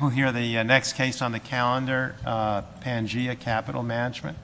We'll hear the next case on the calendar, Pangea Capital Management.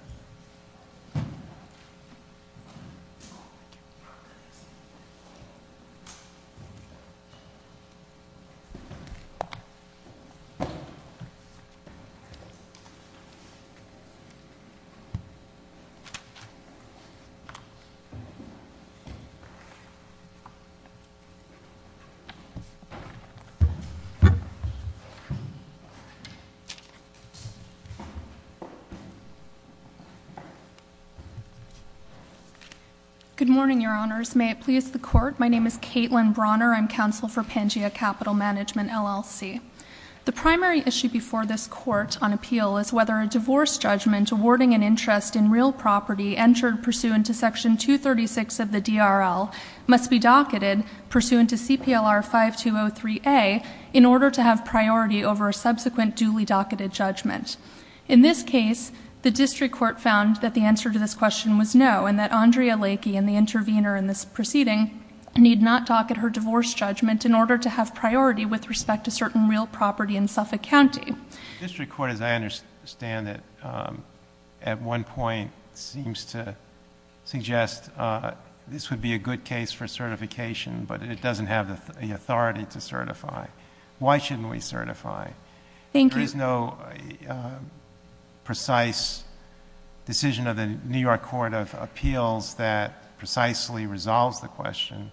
Good morning, Your Honors. May it please the Court, my name is Caitlin Brawner. I'm counsel for Pangea Capital Management, LLC. The primary issue before this Court on appeal is whether a divorce judgment awarding an interest in real property entered pursuant to Section 236 of the DRL must be docketed pursuant to CPLR 5203A in order to have priority over a subsequent duly docketed judgment. In this case, the District Court found that the answer to this question was no, and that Andrea Lakey and the intervener in this proceeding need not docket her divorce judgment in order to have priority with respect to certain real property in Suffolk County. The District Court, as I understand it, at one point seems to suggest this would be a good case for certification, but it doesn't have the authority to certify. Why shouldn't we certify? There is no precise decision of the New York Court of Appeals that precisely resolves the question.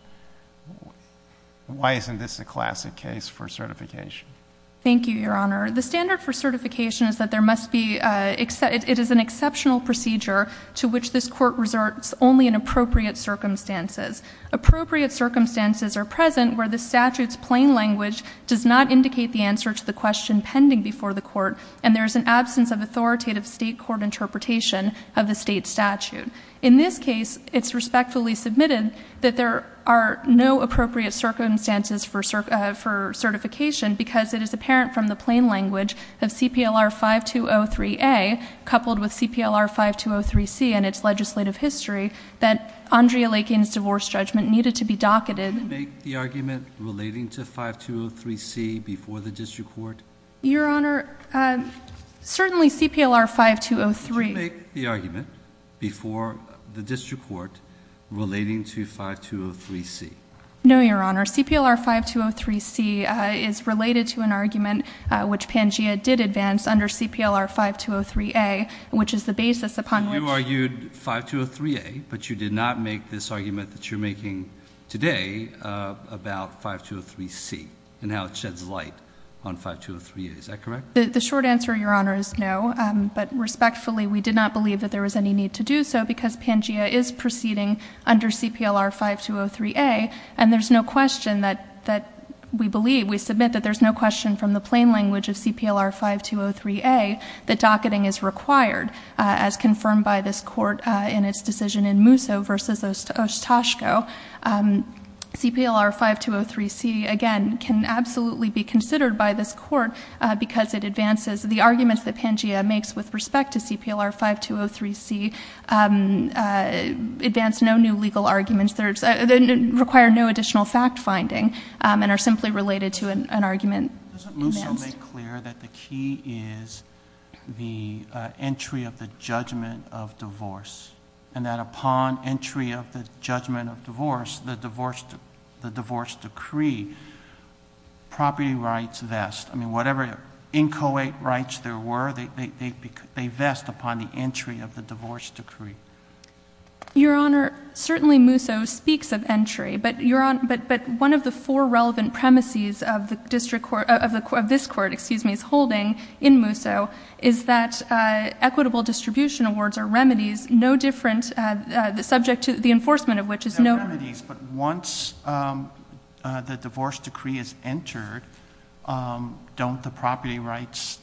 Why isn't this a classic case for certification? Thank you, Your Honor. The standard for certification is that it is an exceptional procedure to which this Court resorts only in appropriate circumstances. Appropriate circumstances are present where the statute's plain language does not indicate the answer to the question pending before the Court, and there is an absence of authoritative state court interpretation of the state statute. In this case, it's respectfully submitted that there are no appropriate circumstances for certification because it is apparent from the plain language of CPLR 5203A coupled with CPLR 5203C and its legislative history that Andrea Lakey's divorce judgment needed to be docketed. Would you make the argument relating to 5203C before the District Court? Your Honor, certainly CPLR 5203. Would you make the argument before the District Court relating to 5203C? No, Your Honor. CPLR 5203C is related to an argument which Pangea did advance under CPLR 5203A, which is the basis upon which. You argued 5203A, but you did not make this argument that you're making today about 5203C and how it sheds light on 5203A. Is that correct? The short answer, Your Honor, is no, but respectfully, we did not believe that there was any need to do so because Pangea is proceeding under CPLR 5203A, and there's no question that we believe. We submit that there's no question from the plain language of CPLR 5203A that docketing is required, as confirmed by this Court in its decision in Musso v. Oshkoshko. CPLR 5203C, again, can absolutely be considered by this Court because it advances the arguments that Pangea makes with respect to CPLR 5203C advance no new legal arguments. They require no additional fact-finding and are simply related to an argument. Doesn't Musso make clear that the key is the entry of the judgment of divorce and that upon entry of the judgment of divorce, the divorce decree, property rights vest. I mean, whatever inchoate rights there were, they vest upon the entry of the divorce decree. Your Honor, certainly Musso speaks of entry, but one of the four relevant premises of this Court's holding in Musso is that equitable distribution awards are remedies, subject to the enforcement of which is no— They're remedies, but once the divorce decree is entered, don't the property rights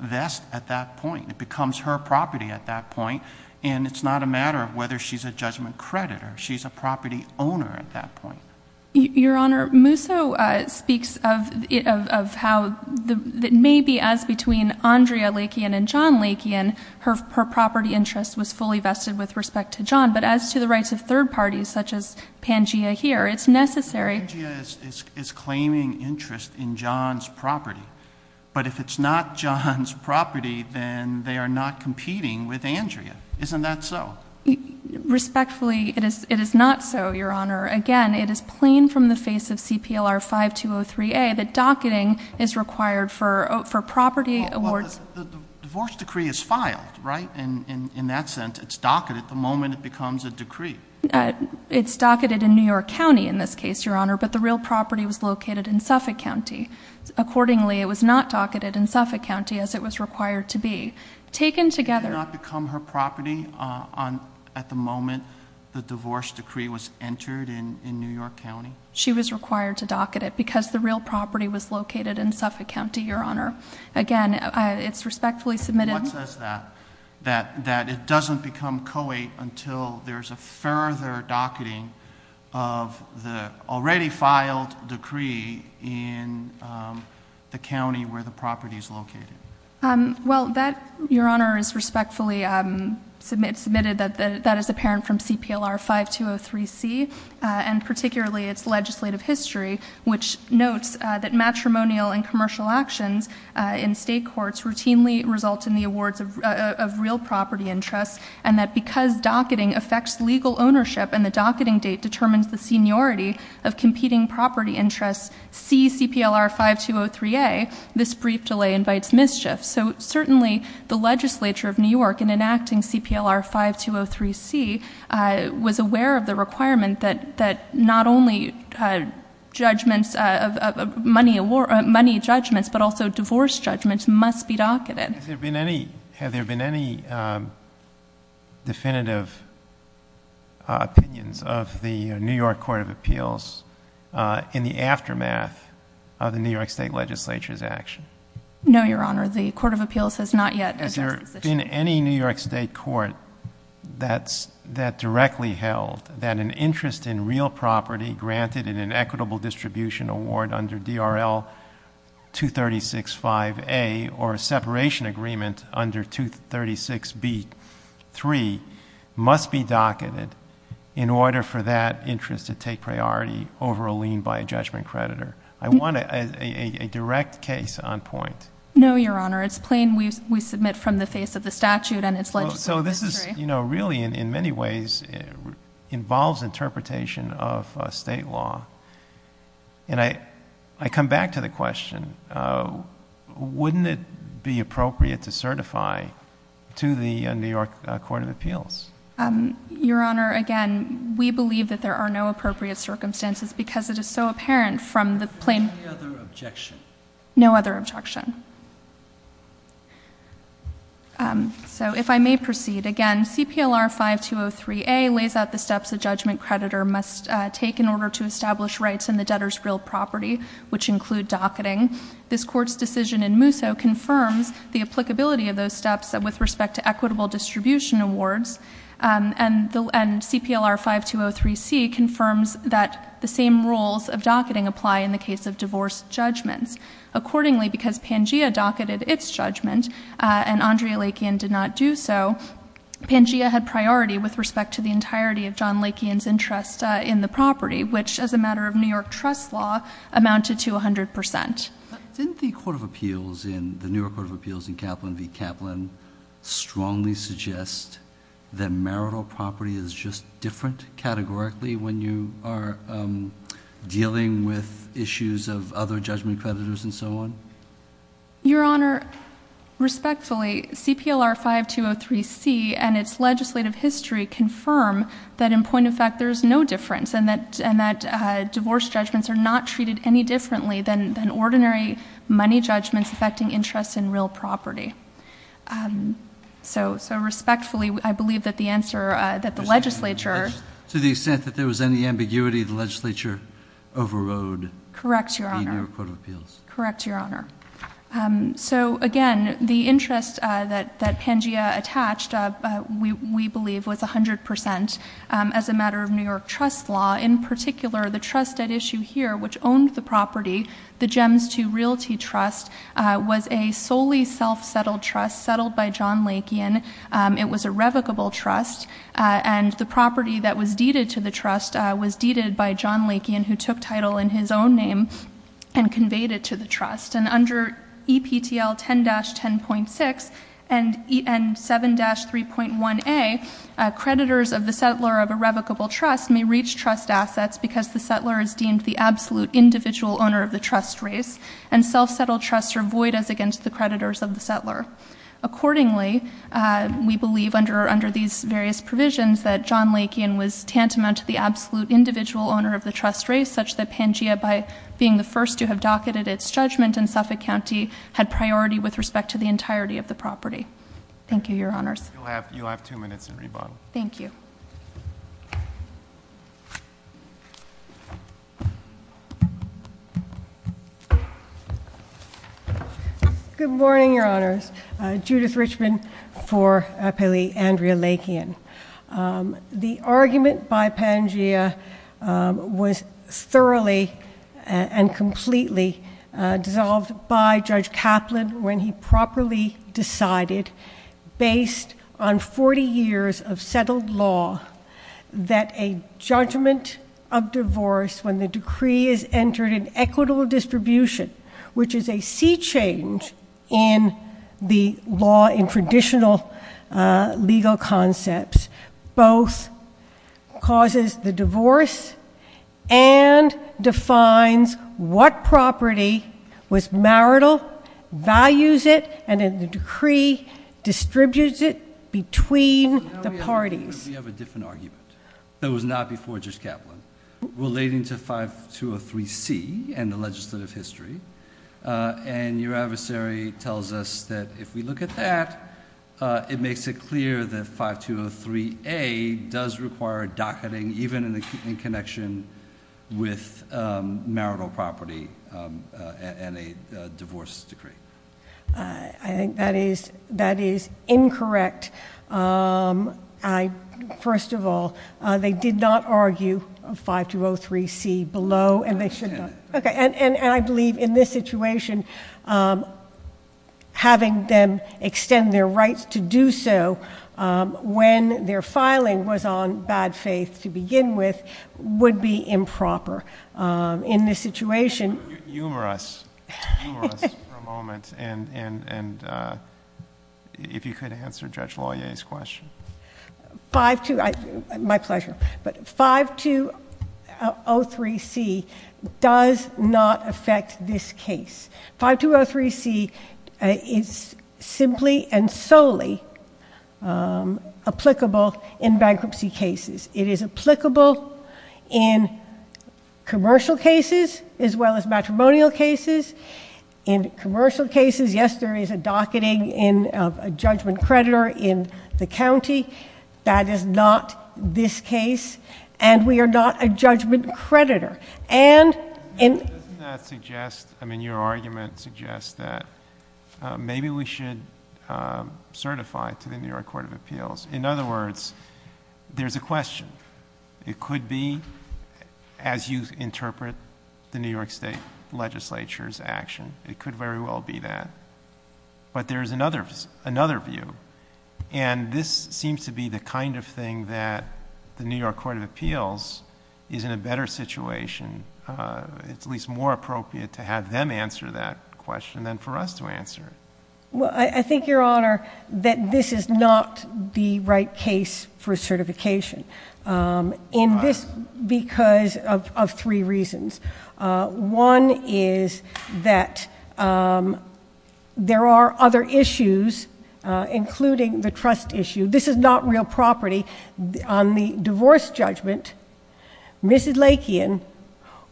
vest at that point? It becomes her property at that point, and it's not a matter of whether she's a judgment creditor. She's a property owner at that point. Your Honor, Musso speaks of how maybe as between Andrea Lakian and John Lakian, her property interest was fully vested with respect to John. But as to the rights of third parties, such as Pangea here, it's necessary— If it is not John's property, then they are not competing with Andrea. Isn't that so? Respectfully, it is not so, Your Honor. Again, it is plain from the face of CPLR 5203A that docketing is required for property awards— Well, the divorce decree is filed, right? And in that sense, it's docketed the moment it becomes a decree. It's docketed in New York County in this case, Your Honor, but the real property was located in Suffolk County. Accordingly, it was not docketed in Suffolk County as it was required to be. Taken together— Did it not become her property at the moment the divorce decree was entered in New York County? She was required to docket it because the real property was located in Suffolk County, Your Honor. Again, it's respectfully submitted— What says that, that it doesn't become co-ate until there's a further docketing of the already filed decree in the county where the property is located? Well, that, Your Honor, is respectfully submitted. That is apparent from CPLR 5203C, and particularly its legislative history, which notes that matrimonial and commercial actions in state courts routinely result in the awards of real property interests, and that because docketing affects legal ownership and the docketing date determines the seniority of competing property interests, see CPLR 5203A, this brief delay invites mischief. So certainly the legislature of New York, in enacting CPLR 5203C, was aware of the requirement that not only money judgments but also divorce judgments must be docketed. Have there been any definitive opinions of the New York Court of Appeals in the aftermath of the New York State Legislature's action? No, Your Honor. The Court of Appeals has not yet addressed this issue. Is there in any New York State court that directly held that an interest in real property granted in an equitable distribution award under DRL 2365A or a separation agreement under 236B-3 must be docketed in order for that interest to take priority over a lien by a judgment creditor? I want a direct case on point. No, Your Honor. It's plain. We submit from the face of the statute and its legislative history. So this is, you know, really in many ways involves interpretation of state law. And I come back to the question, wouldn't it be appropriate to certify to the New York Court of Appeals? Your Honor, again, we believe that there are no appropriate circumstances because it is so apparent from the plain— Is there any other objection? No other objection. So if I may proceed, again, CPLR 5203A lays out the steps a judgment creditor must take in order to establish rights in the debtor's real property, which include docketing. This Court's decision in Musso confirms the applicability of those steps with respect to equitable distribution awards. And CPLR 5203C confirms that the same rules of docketing apply in the case of divorce judgments. Accordingly, because Pangia docketed its judgment and Andrea Lakian did not do so, Pangia had priority with respect to the entirety of John Lakian's interest in the property, which, as a matter of New York trust law, amounted to 100 percent. Didn't the Court of Appeals in—the New York Court of Appeals in Kaplan v. Kaplan strongly suggest that marital property is just different categorically when you are dealing with issues of other judgment creditors and so on? Your Honor, respectfully, CPLR 5203C and its legislative history confirm that, in point of fact, there is no difference and that divorce judgments are not treated any differently than ordinary money judgments affecting interest in real property. So respectfully, I believe that the answer that the legislature— To the extent that there was any ambiguity, the legislature overrode the New York Court of Appeals. Correct, Your Honor. So, again, the interest that Pangia attached, we believe, was 100 percent as a matter of New York trust law. In particular, the trust at issue here, which owned the property, the Gems II Realty Trust, was a solely self-settled trust settled by John Lakian. It was a revocable trust, and the property that was deeded to the trust was deeded by John Lakian, who took title in his own name and conveyed it to the trust. And under EPTL 10-10.6 and 7-3.1a, creditors of the settler of a revocable trust may reach trust assets because the settler is deemed the absolute individual owner of the trust race, and self-settled trusts are void as against the creditors of the settler. Accordingly, we believe under these various provisions that John Lakian was tantamount to the absolute individual owner of the trust race, such that Pangia, by being the first to have docketed its judgment in Suffolk County, had priority with respect to the entirety of the property. Thank you, Your Honors. You'll have two minutes in rebuttal. Thank you. Good morning, Your Honors. Judith Richman for Appellee Andrea Lakian. The argument by Pangia was thoroughly and completely dissolved by Judge Kaplan when he properly decided, based on 40 years of settled law, that a judgment of divorce when the decree is entered in equitable distribution, which is a sea change in the law in traditional legal concepts, both causes the divorce and defines what property was marital, values it, and in the decree distributes it between the parties. We have a different argument that was not before Judge Kaplan relating to 5203C and the legislative history. And your adversary tells us that if we look at that, it makes it clear that 5203A does require docketing, even in connection with marital property and a divorce decree. I think that is incorrect. First of all, they did not argue 5203C below, and they should not. Okay. And I believe in this situation, having them extend their rights to do so when their filing was on bad faith to begin with would be improper. In this situation... Humor us. Humor us for a moment, and if you could answer Judge Lauier's question. My pleasure. But 5203C does not affect this case. 5203C is simply and solely applicable in bankruptcy cases. It is applicable in commercial cases as well as matrimonial cases. In commercial cases, yes, there is a docketing of a judgment creditor in the county. That is not this case, and we are not a judgment creditor. And... Doesn't that suggest, I mean, your argument suggests that maybe we should certify to the New York Court of Appeals. In other words, there's a question. It could be, as you interpret the New York State Legislature's action, it could very well be that. But there's another view, and this seems to be the kind of thing that the New York Court of Appeals is in a better situation, at least more appropriate to have them answer that question than for us to answer it. Well, I think, Your Honor, that this is not the right case for certification in this because of three reasons. One is that there are other issues, including the trust issue. This is not real property. On the divorce judgment, Mrs. Lakian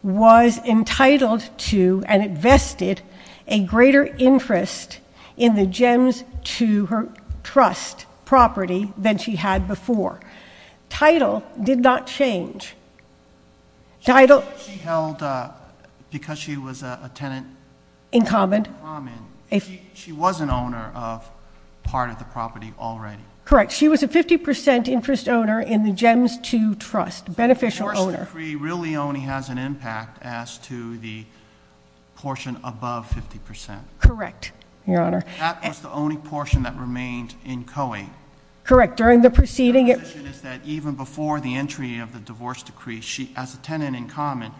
was entitled to and invested a greater interest in the Gems to her trust property than she had before. Title did not change. Title... She held, because she was a tenant... In common. In common. She was an owner of part of the property already. Correct. She was a 50 percent interest owner in the Gems to trust, beneficial owner. Divorce decree really only has an impact as to the portion above 50 percent. Correct, Your Honor. That was the only portion that remained in COE. Correct. During the preceding... The position is that even before the entry of the divorce decree, she, as a tenant in common,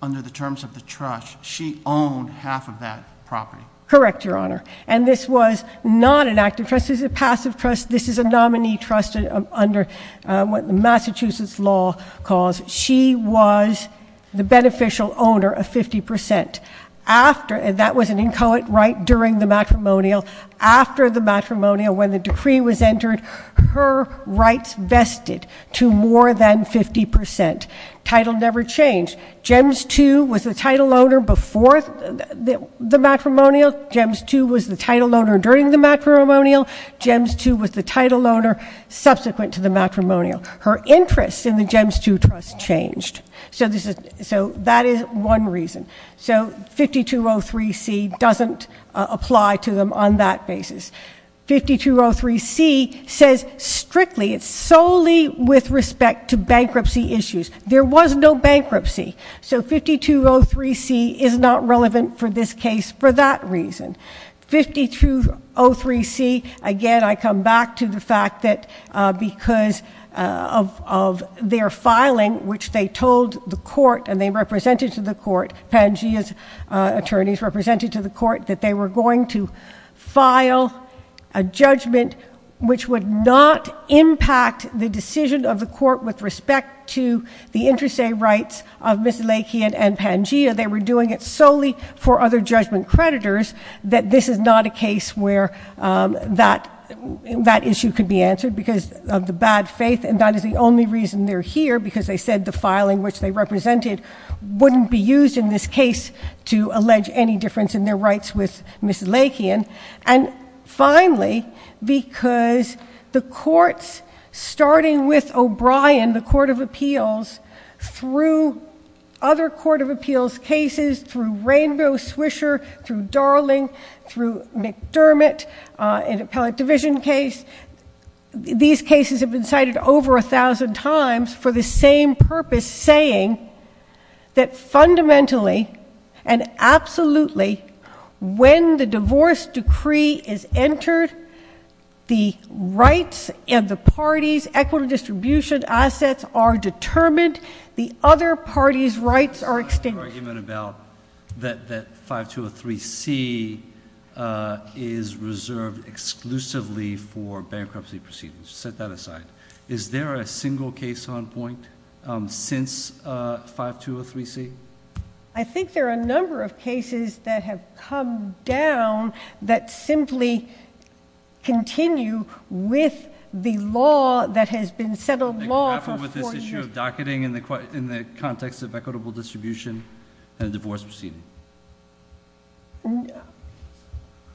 under the terms of the trust, she owned half of that property. Correct, Your Honor. And this was not an active trust. This is a passive trust. This is a nominee trust under what Massachusetts law calls... She was the beneficial owner of 50 percent. After... That was an inchoate right during the matrimonial. After the matrimonial, when the decree was entered, her rights vested to more than 50 percent. Title never changed. Gems to was the title owner before the matrimonial. Gems to was the title owner during the matrimonial. Gems to was the title owner subsequent to the matrimonial. Her interest in the Gems to trust changed. So, this is... So, that is one reason. So, 5203C doesn't apply to them on that basis. 5203C says strictly, it's solely with respect to bankruptcy issues. There was no bankruptcy. So, 5203C is not relevant for this case for that reason. 5203C... Again, I come back to the fact that because of their filing, which they told the court and they represented to the court... They were doing it solely for other judgment creditors. That this is not a case where that issue could be answered because of the bad faith. And, that is the only reason they're here because they said the filing, which they represented... wouldn't be used in this case to allege any difference in their rights with Mrs. Lakian. And finally, because the courts, starting with O'Brien, the Court of Appeals, through other Court of Appeals cases... through Rainbow Swisher, through Darling, through McDermott, an appellate division case... These cases have been cited over a thousand times for the same purpose saying... that fundamentally and absolutely, when the divorce decree is entered... the rights of the parties' equity distribution assets are determined. The other parties' rights are extended. The argument about that 5203C is reserved exclusively for bankruptcy proceedings. Set that aside. Is there a single case on point, since 5203C? I think there are a number of cases that have come down, that simply continue with the law that has been settled law... With this issue of docketing in the context of equitable distribution and divorce proceedings.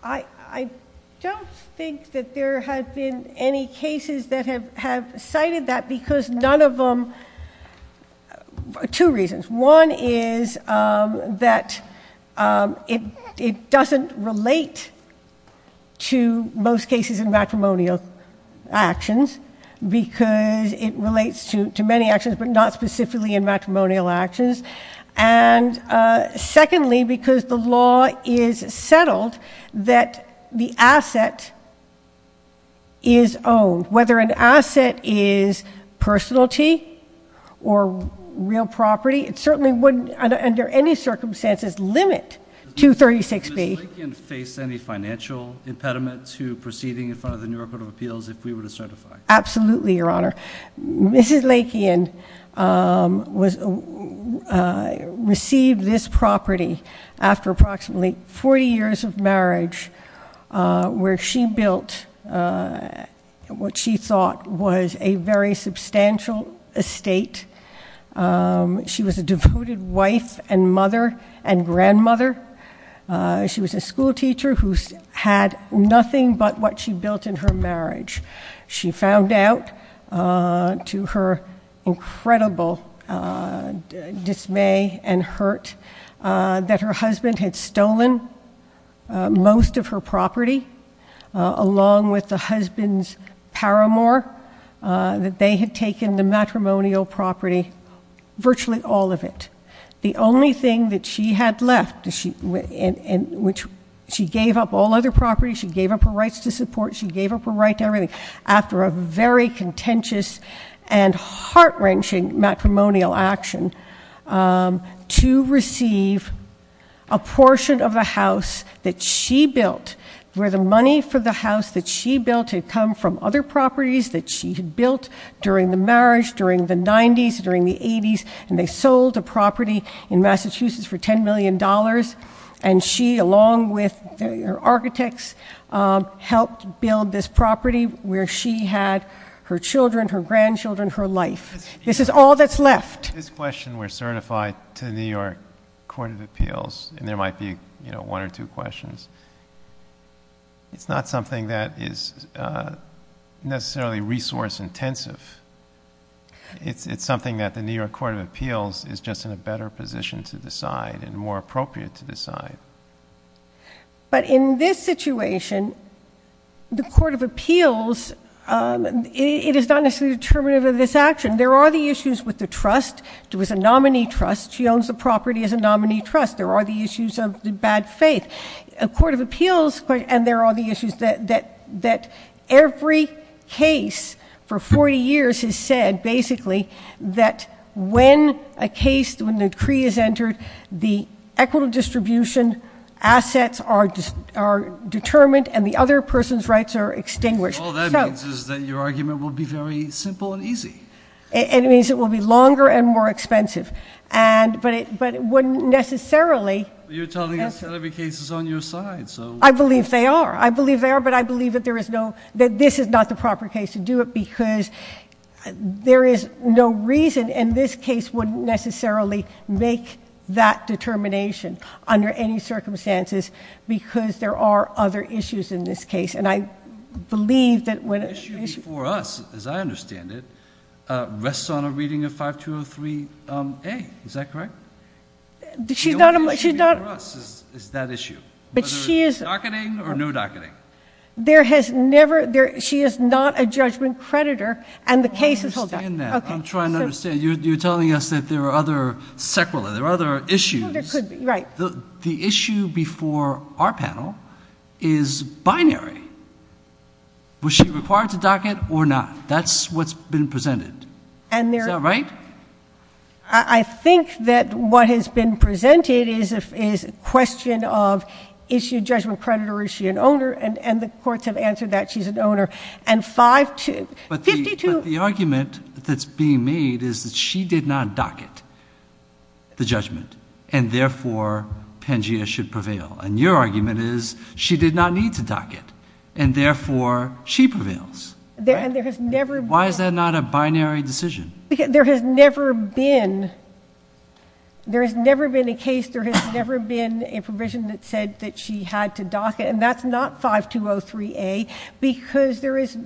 I don't think that there have been any cases that have cited that because none of them... Two reasons. One is that it doesn't relate to most cases in matrimonial actions. Because it relates to many actions, but not specifically in matrimonial actions. And secondly, because the law is settled, that the asset is owned. Whether an asset is personality or real property, it certainly wouldn't, under any circumstances, limit 236B. Does Mrs. Lakian face any financial impediment to proceeding in front of the New York Court of Appeals, if we were to certify? Absolutely, Your Honor. Mrs. Lakian received this property after approximately 40 years of marriage... where she built what she thought was a very substantial estate. She was a devoted wife and mother and grandmother. She was a school teacher who had nothing but what she built in her marriage. She found out, to her incredible dismay and hurt, that her husband had stolen most of her property... along with the husband's paramour, that they had taken the matrimonial property, virtually all of it. The only thing that she had left... She gave up all other property. She gave up her rights to support. She gave up her right to everything. After a very contentious and heart-wrenching matrimonial action, to receive a portion of the house that she built... where the money for the house that she built had come from other properties that she had built... during the marriage, during the 90's, during the 80's. And, they sold the property in Massachusetts for $10 million. And, she along with her architects, helped build this property where she had her children, her grandchildren, her life. This is all that's left. This question was certified to the New York Court of Appeals. And, there might be one or two questions. It's not something that is necessarily resource-intensive. It's something that the New York Court of Appeals is just in a better position to decide and more appropriate to decide. But, in this situation, the Court of Appeals, it is not necessarily determinative of this action. There are the issues with the trust. It was a nominee trust. She owns the property as a nominee trust. There are the issues of the bad faith. The Court of Appeals, and there are the issues that every case for 40 years has said, basically, that when a case, when a decree is entered, the equitable distribution assets are determined, and the other person's rights are extinguished. All that means is that your argument will be very simple and easy. And, it means it will be longer and more expensive. But, it wouldn't necessarily... You're telling us that every case is on your side, so... I believe they are. I believe they are, but I believe that there is no... that this is not the proper case to do it because there is no reason, and this case wouldn't necessarily make that determination under any circumstances because there are other issues in this case. And, I believe that when... The issue before us, as I understand it, rests on a reading of 5203A. Is that correct? She's not... The only issue before us is that issue. But, she is... Docketing or no docketing? There has never... She is not a judgment creditor, and the case is... I understand that. I'm trying to understand. You're telling us that there are other sequelae, there are other issues. There could be, right. The issue before our panel is binary. Was she required to docket or not? That's what's been presented. And, there... Is that right? I think that what has been presented is a question of, is she a judgment creditor or is she an owner? And, the courts have answered that she's an owner. And, 5252... But, the argument that's being made is that she did not docket the judgment, and, therefore, Pangea should prevail. And, your argument is she did not need to docket, and, therefore, she prevails. And, there has never... Why is that not a binary decision? There has never been... There has never been a case... There has never been a provision that said that she had to docket. And, that's not 5203A, because there is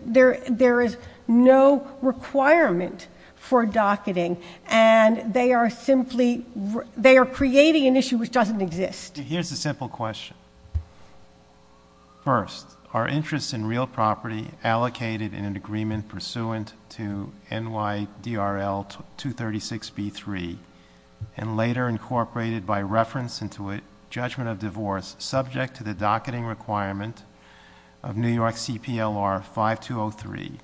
no requirement for docketing. And, they are simply... They are creating an issue which doesn't exist. Here's a simple question. First, are interests in real property allocated in an agreement pursuant to NY DRL 236B3, and later incorporated by reference into a judgment of divorce, subject to the docketing requirement of New York CPLR 5203,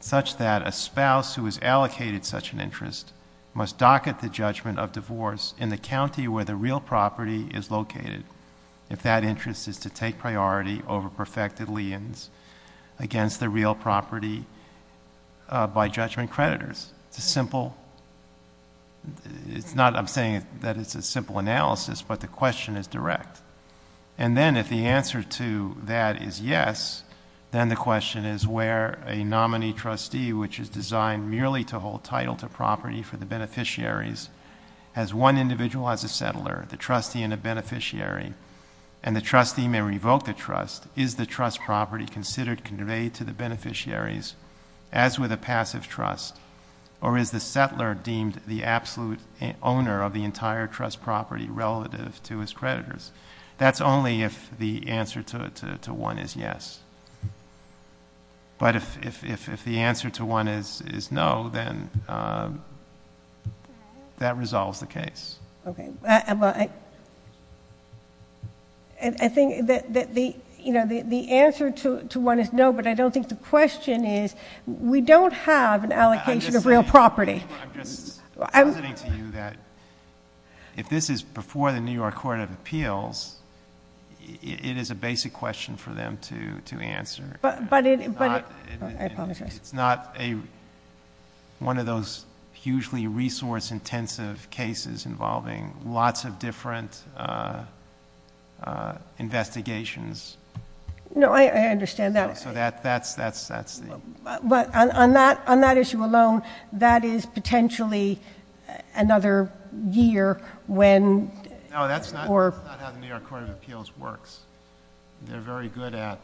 such that a spouse who has allocated such an interest must docket the judgment of divorce in the county where the real property is located? If that interest is to take priority over perfected liens against the real property by judgment creditors? It's a simple... It's not... I'm saying that it's a simple analysis, but the question is direct. And then, if the answer to that is yes, then the question is where a nominee trustee, which is designed merely to hold title to property for the beneficiaries, has one individual as a settler, the trustee and a beneficiary, and the trustee may revoke the trust, is the trust property considered conveyed to the beneficiaries as with a passive trust, or is the settler deemed the absolute owner of the entire trust property relative to his creditors? That's only if the answer to one is yes. But if the answer to one is no, then that resolves the case. Okay. I think that the answer to one is no, but I don't think the question is, we don't have an allocation of real property. I'm just saying to you that if this is before the New York Court of Appeals, it is a basic question for them to answer. But... I apologize. It's not one of those hugely resource-intensive cases involving lots of different investigations. No, I understand that. So that's... But on that issue alone, that is potentially another year when... No, that's not how the New York Court of Appeals works. They're very good at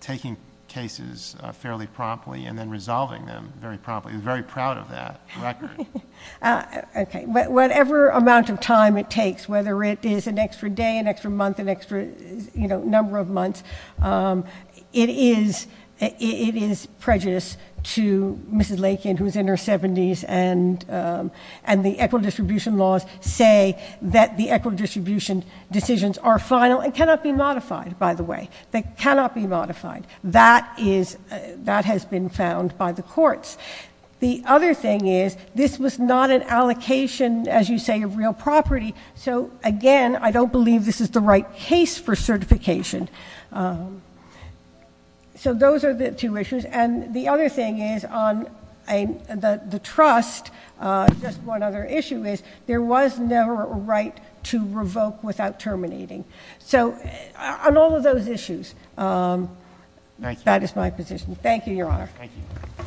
taking cases fairly promptly and then resolving them very promptly. They're very proud of that record. Okay. Whatever amount of time it takes, whether it is an extra day, an extra month, an extra number of months, it is prejudice to Mrs. Lakin, who is in her 70s, and the equitable distribution laws say that the equitable distribution decisions are final and cannot be modified, by the way. They cannot be modified. That has been found by the courts. The other thing is, this was not an allocation, as you say, of real property. So, again, I don't believe this is the right case for certification. So those are the two issues. And the other thing is, on the trust, just one other issue is, there was never a right to revoke without terminating. So on all of those issues, that is my position. Thank you, Your Honor. Thank you. Thank you.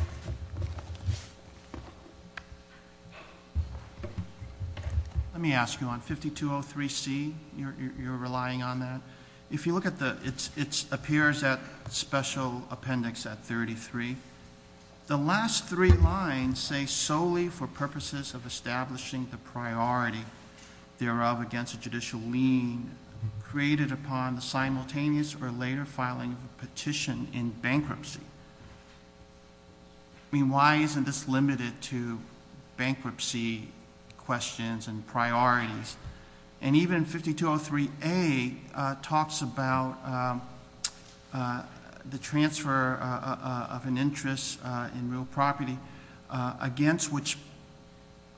Let me ask you, on 5203C, you're relying on that. If you look at the, it appears at special appendix at 33. The last three lines say solely for purposes of establishing the priority thereof against a judicial lien created upon the simultaneous or later filing of a petition in bankruptcy. I mean, why isn't this limited to bankruptcy questions and priorities? And even 5203A talks about the transfer of an interest in real property against which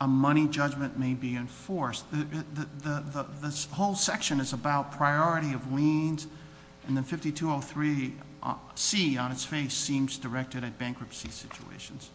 a money judgment may be enforced. This whole section is about priority of liens, and then 5203C on its face seems directed at bankruptcy situations.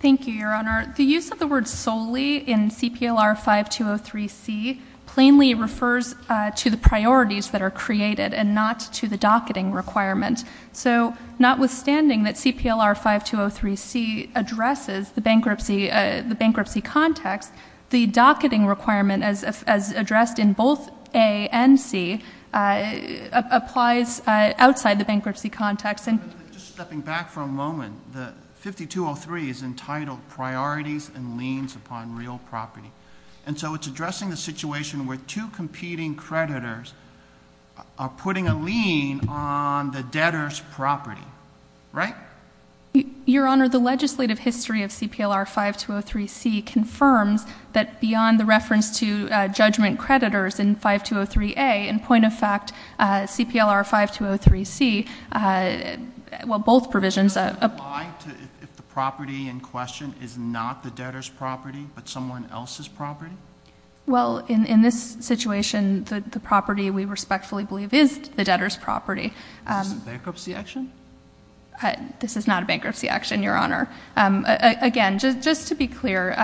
Thank you, Your Honor. The use of the word solely in CPLR 5203C plainly refers to the priorities that are created and not to the docketing requirement. So notwithstanding that CPLR 5203C addresses the bankruptcy context, the docketing requirement as addressed in both A and C applies outside the bankruptcy context. Just stepping back for a moment, 5203 is entitled Priorities and Liens Upon Real Property. And so it's addressing the situation where two competing creditors are putting a lien on the debtor's property. Right? Your Honor, the legislative history of CPLR 5203C confirms that beyond the reference to judgment creditors in 5203A, in point of fact, CPLR 5203C, well, both provisions. Does it apply if the property in question is not the debtor's property but someone else's property? Well, in this situation, the property we respectfully believe is the debtor's property. Is it bankruptcy action? This is not a bankruptcy action, Your Honor. Again, just to be clear,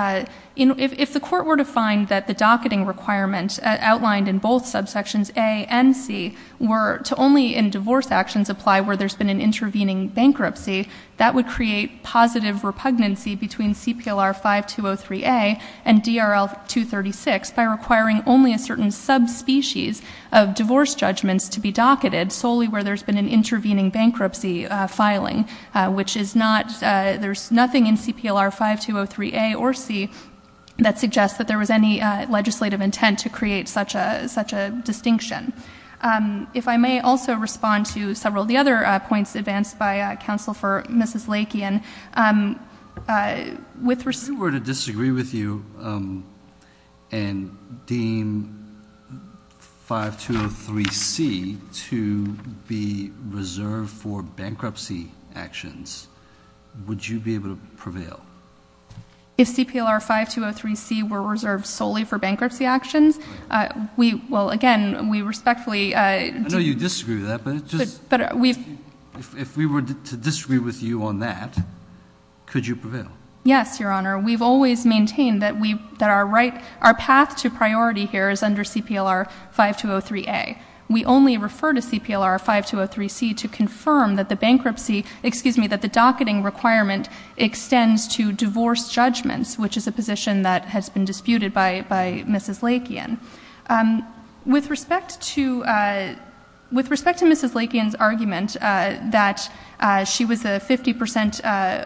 if the court were to find that the docketing requirement outlined in both subsections A and C were to only in divorce actions apply where there's been an intervening bankruptcy, that would create positive repugnancy between CPLR 5203A and DRL 236 by requiring only a certain subspecies of divorce judgments to be docketed solely where there's been an intervening bankruptcy filing, which is not — there's nothing in CPLR 5203A or C that suggests that there was any legislative intent to create such a distinction. If I may also respond to several of the other points advanced by Counsel for Mrs. Lakian. If we were to disagree with you and deem 5203C to be reserved for bankruptcy actions, would you be able to prevail? If CPLR 5203C were reserved solely for bankruptcy actions, we — well, again, we respectfully — Could you prevail? Yes, Your Honor. We've always maintained that we — that our right — our path to priority here is under CPLR 5203A. We only refer to CPLR 5203C to confirm that the bankruptcy — excuse me, that the docketing requirement extends to divorce judgments, which is a position that has been disputed by Mrs. Lakian. With respect to — with respect to Mrs. Lakian's argument that she was the 50 percent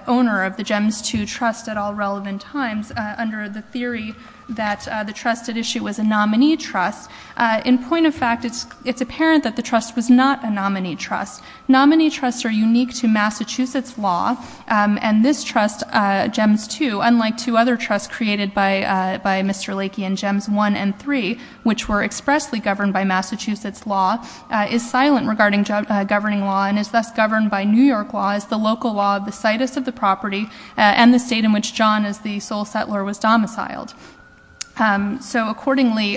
owner of the GEMS II Trust at all relevant times, under the theory that the trust at issue was a nominee trust, in point of fact, it's apparent that the trust was not a nominee trust. Nominee trusts are unique to Massachusetts law, and this trust, GEMS II, unlike two other trusts created by Mr. Lakian, GEMS I and III, which were expressly governed by Massachusetts law, is silent regarding governing law and is thus governed by New York law as the local law of the situs of the property and the state in which John as the sole settler was domiciled. So accordingly,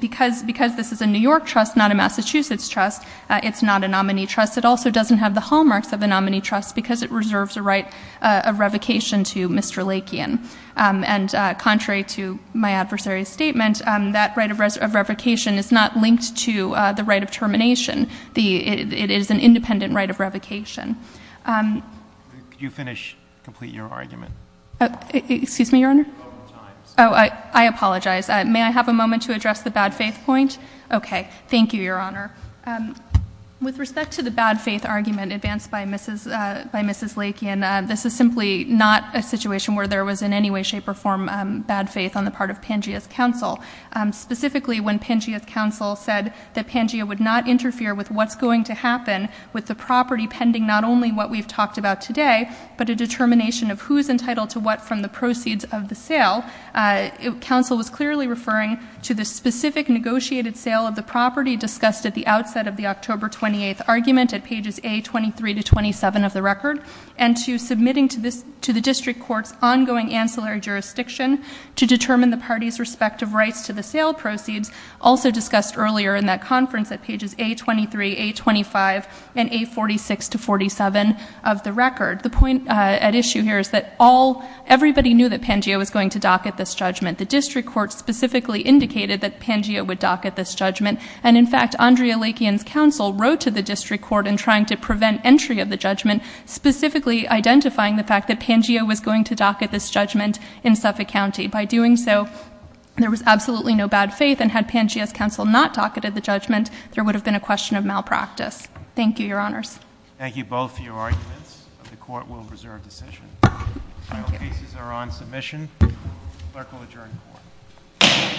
because this is a New York trust, not a Massachusetts trust, it's not a nominee trust. It also doesn't have the hallmarks of a nominee trust because it reserves a right of revocation to Mr. Lakian. And contrary to my adversary's statement, that right of revocation is not linked to the right of termination. It is an independent right of revocation. Could you finish, complete your argument? Excuse me, Your Honor? A couple of times. Oh, I apologize. May I have a moment to address the bad faith point? Okay. Thank you, Your Honor. With respect to the bad faith argument advanced by Mrs. Lakian, this is simply not a situation where there was in any way, shape, or form bad faith on the part of Pangaea's counsel. Specifically, when Pangaea's counsel said that Pangaea would not interfere with what's going to happen with the property pending not only what we've talked about today, but a determination of who's entitled to what from the proceeds of the sale, counsel was clearly referring to the specific negotiated sale of the property discussed at the outset of the October 28th argument at pages A23 to 27 of the record, and to submitting to the district court's ongoing ancillary jurisdiction to determine the party's respective rights to the sale proceeds, also discussed earlier in that conference at pages A23, A25, and A46 to 47 of the record. The point at issue here is that all, everybody knew that Pangaea was going to docket this judgment. The district court specifically indicated that Pangaea would docket this judgment, and in fact, Andrea Lakian's counsel wrote to the district court in trying to prevent entry of the judgment, specifically identifying the fact that Pangaea was going to docket this judgment in Suffolk County. By doing so, there was absolutely no bad faith, and had Pangaea's counsel not docketed the judgment, there would have been a question of malpractice. Thank you, Your Honors. Thank you both for your arguments. The court will reserve decision. Final cases are on submission. Clerk will adjourn the court.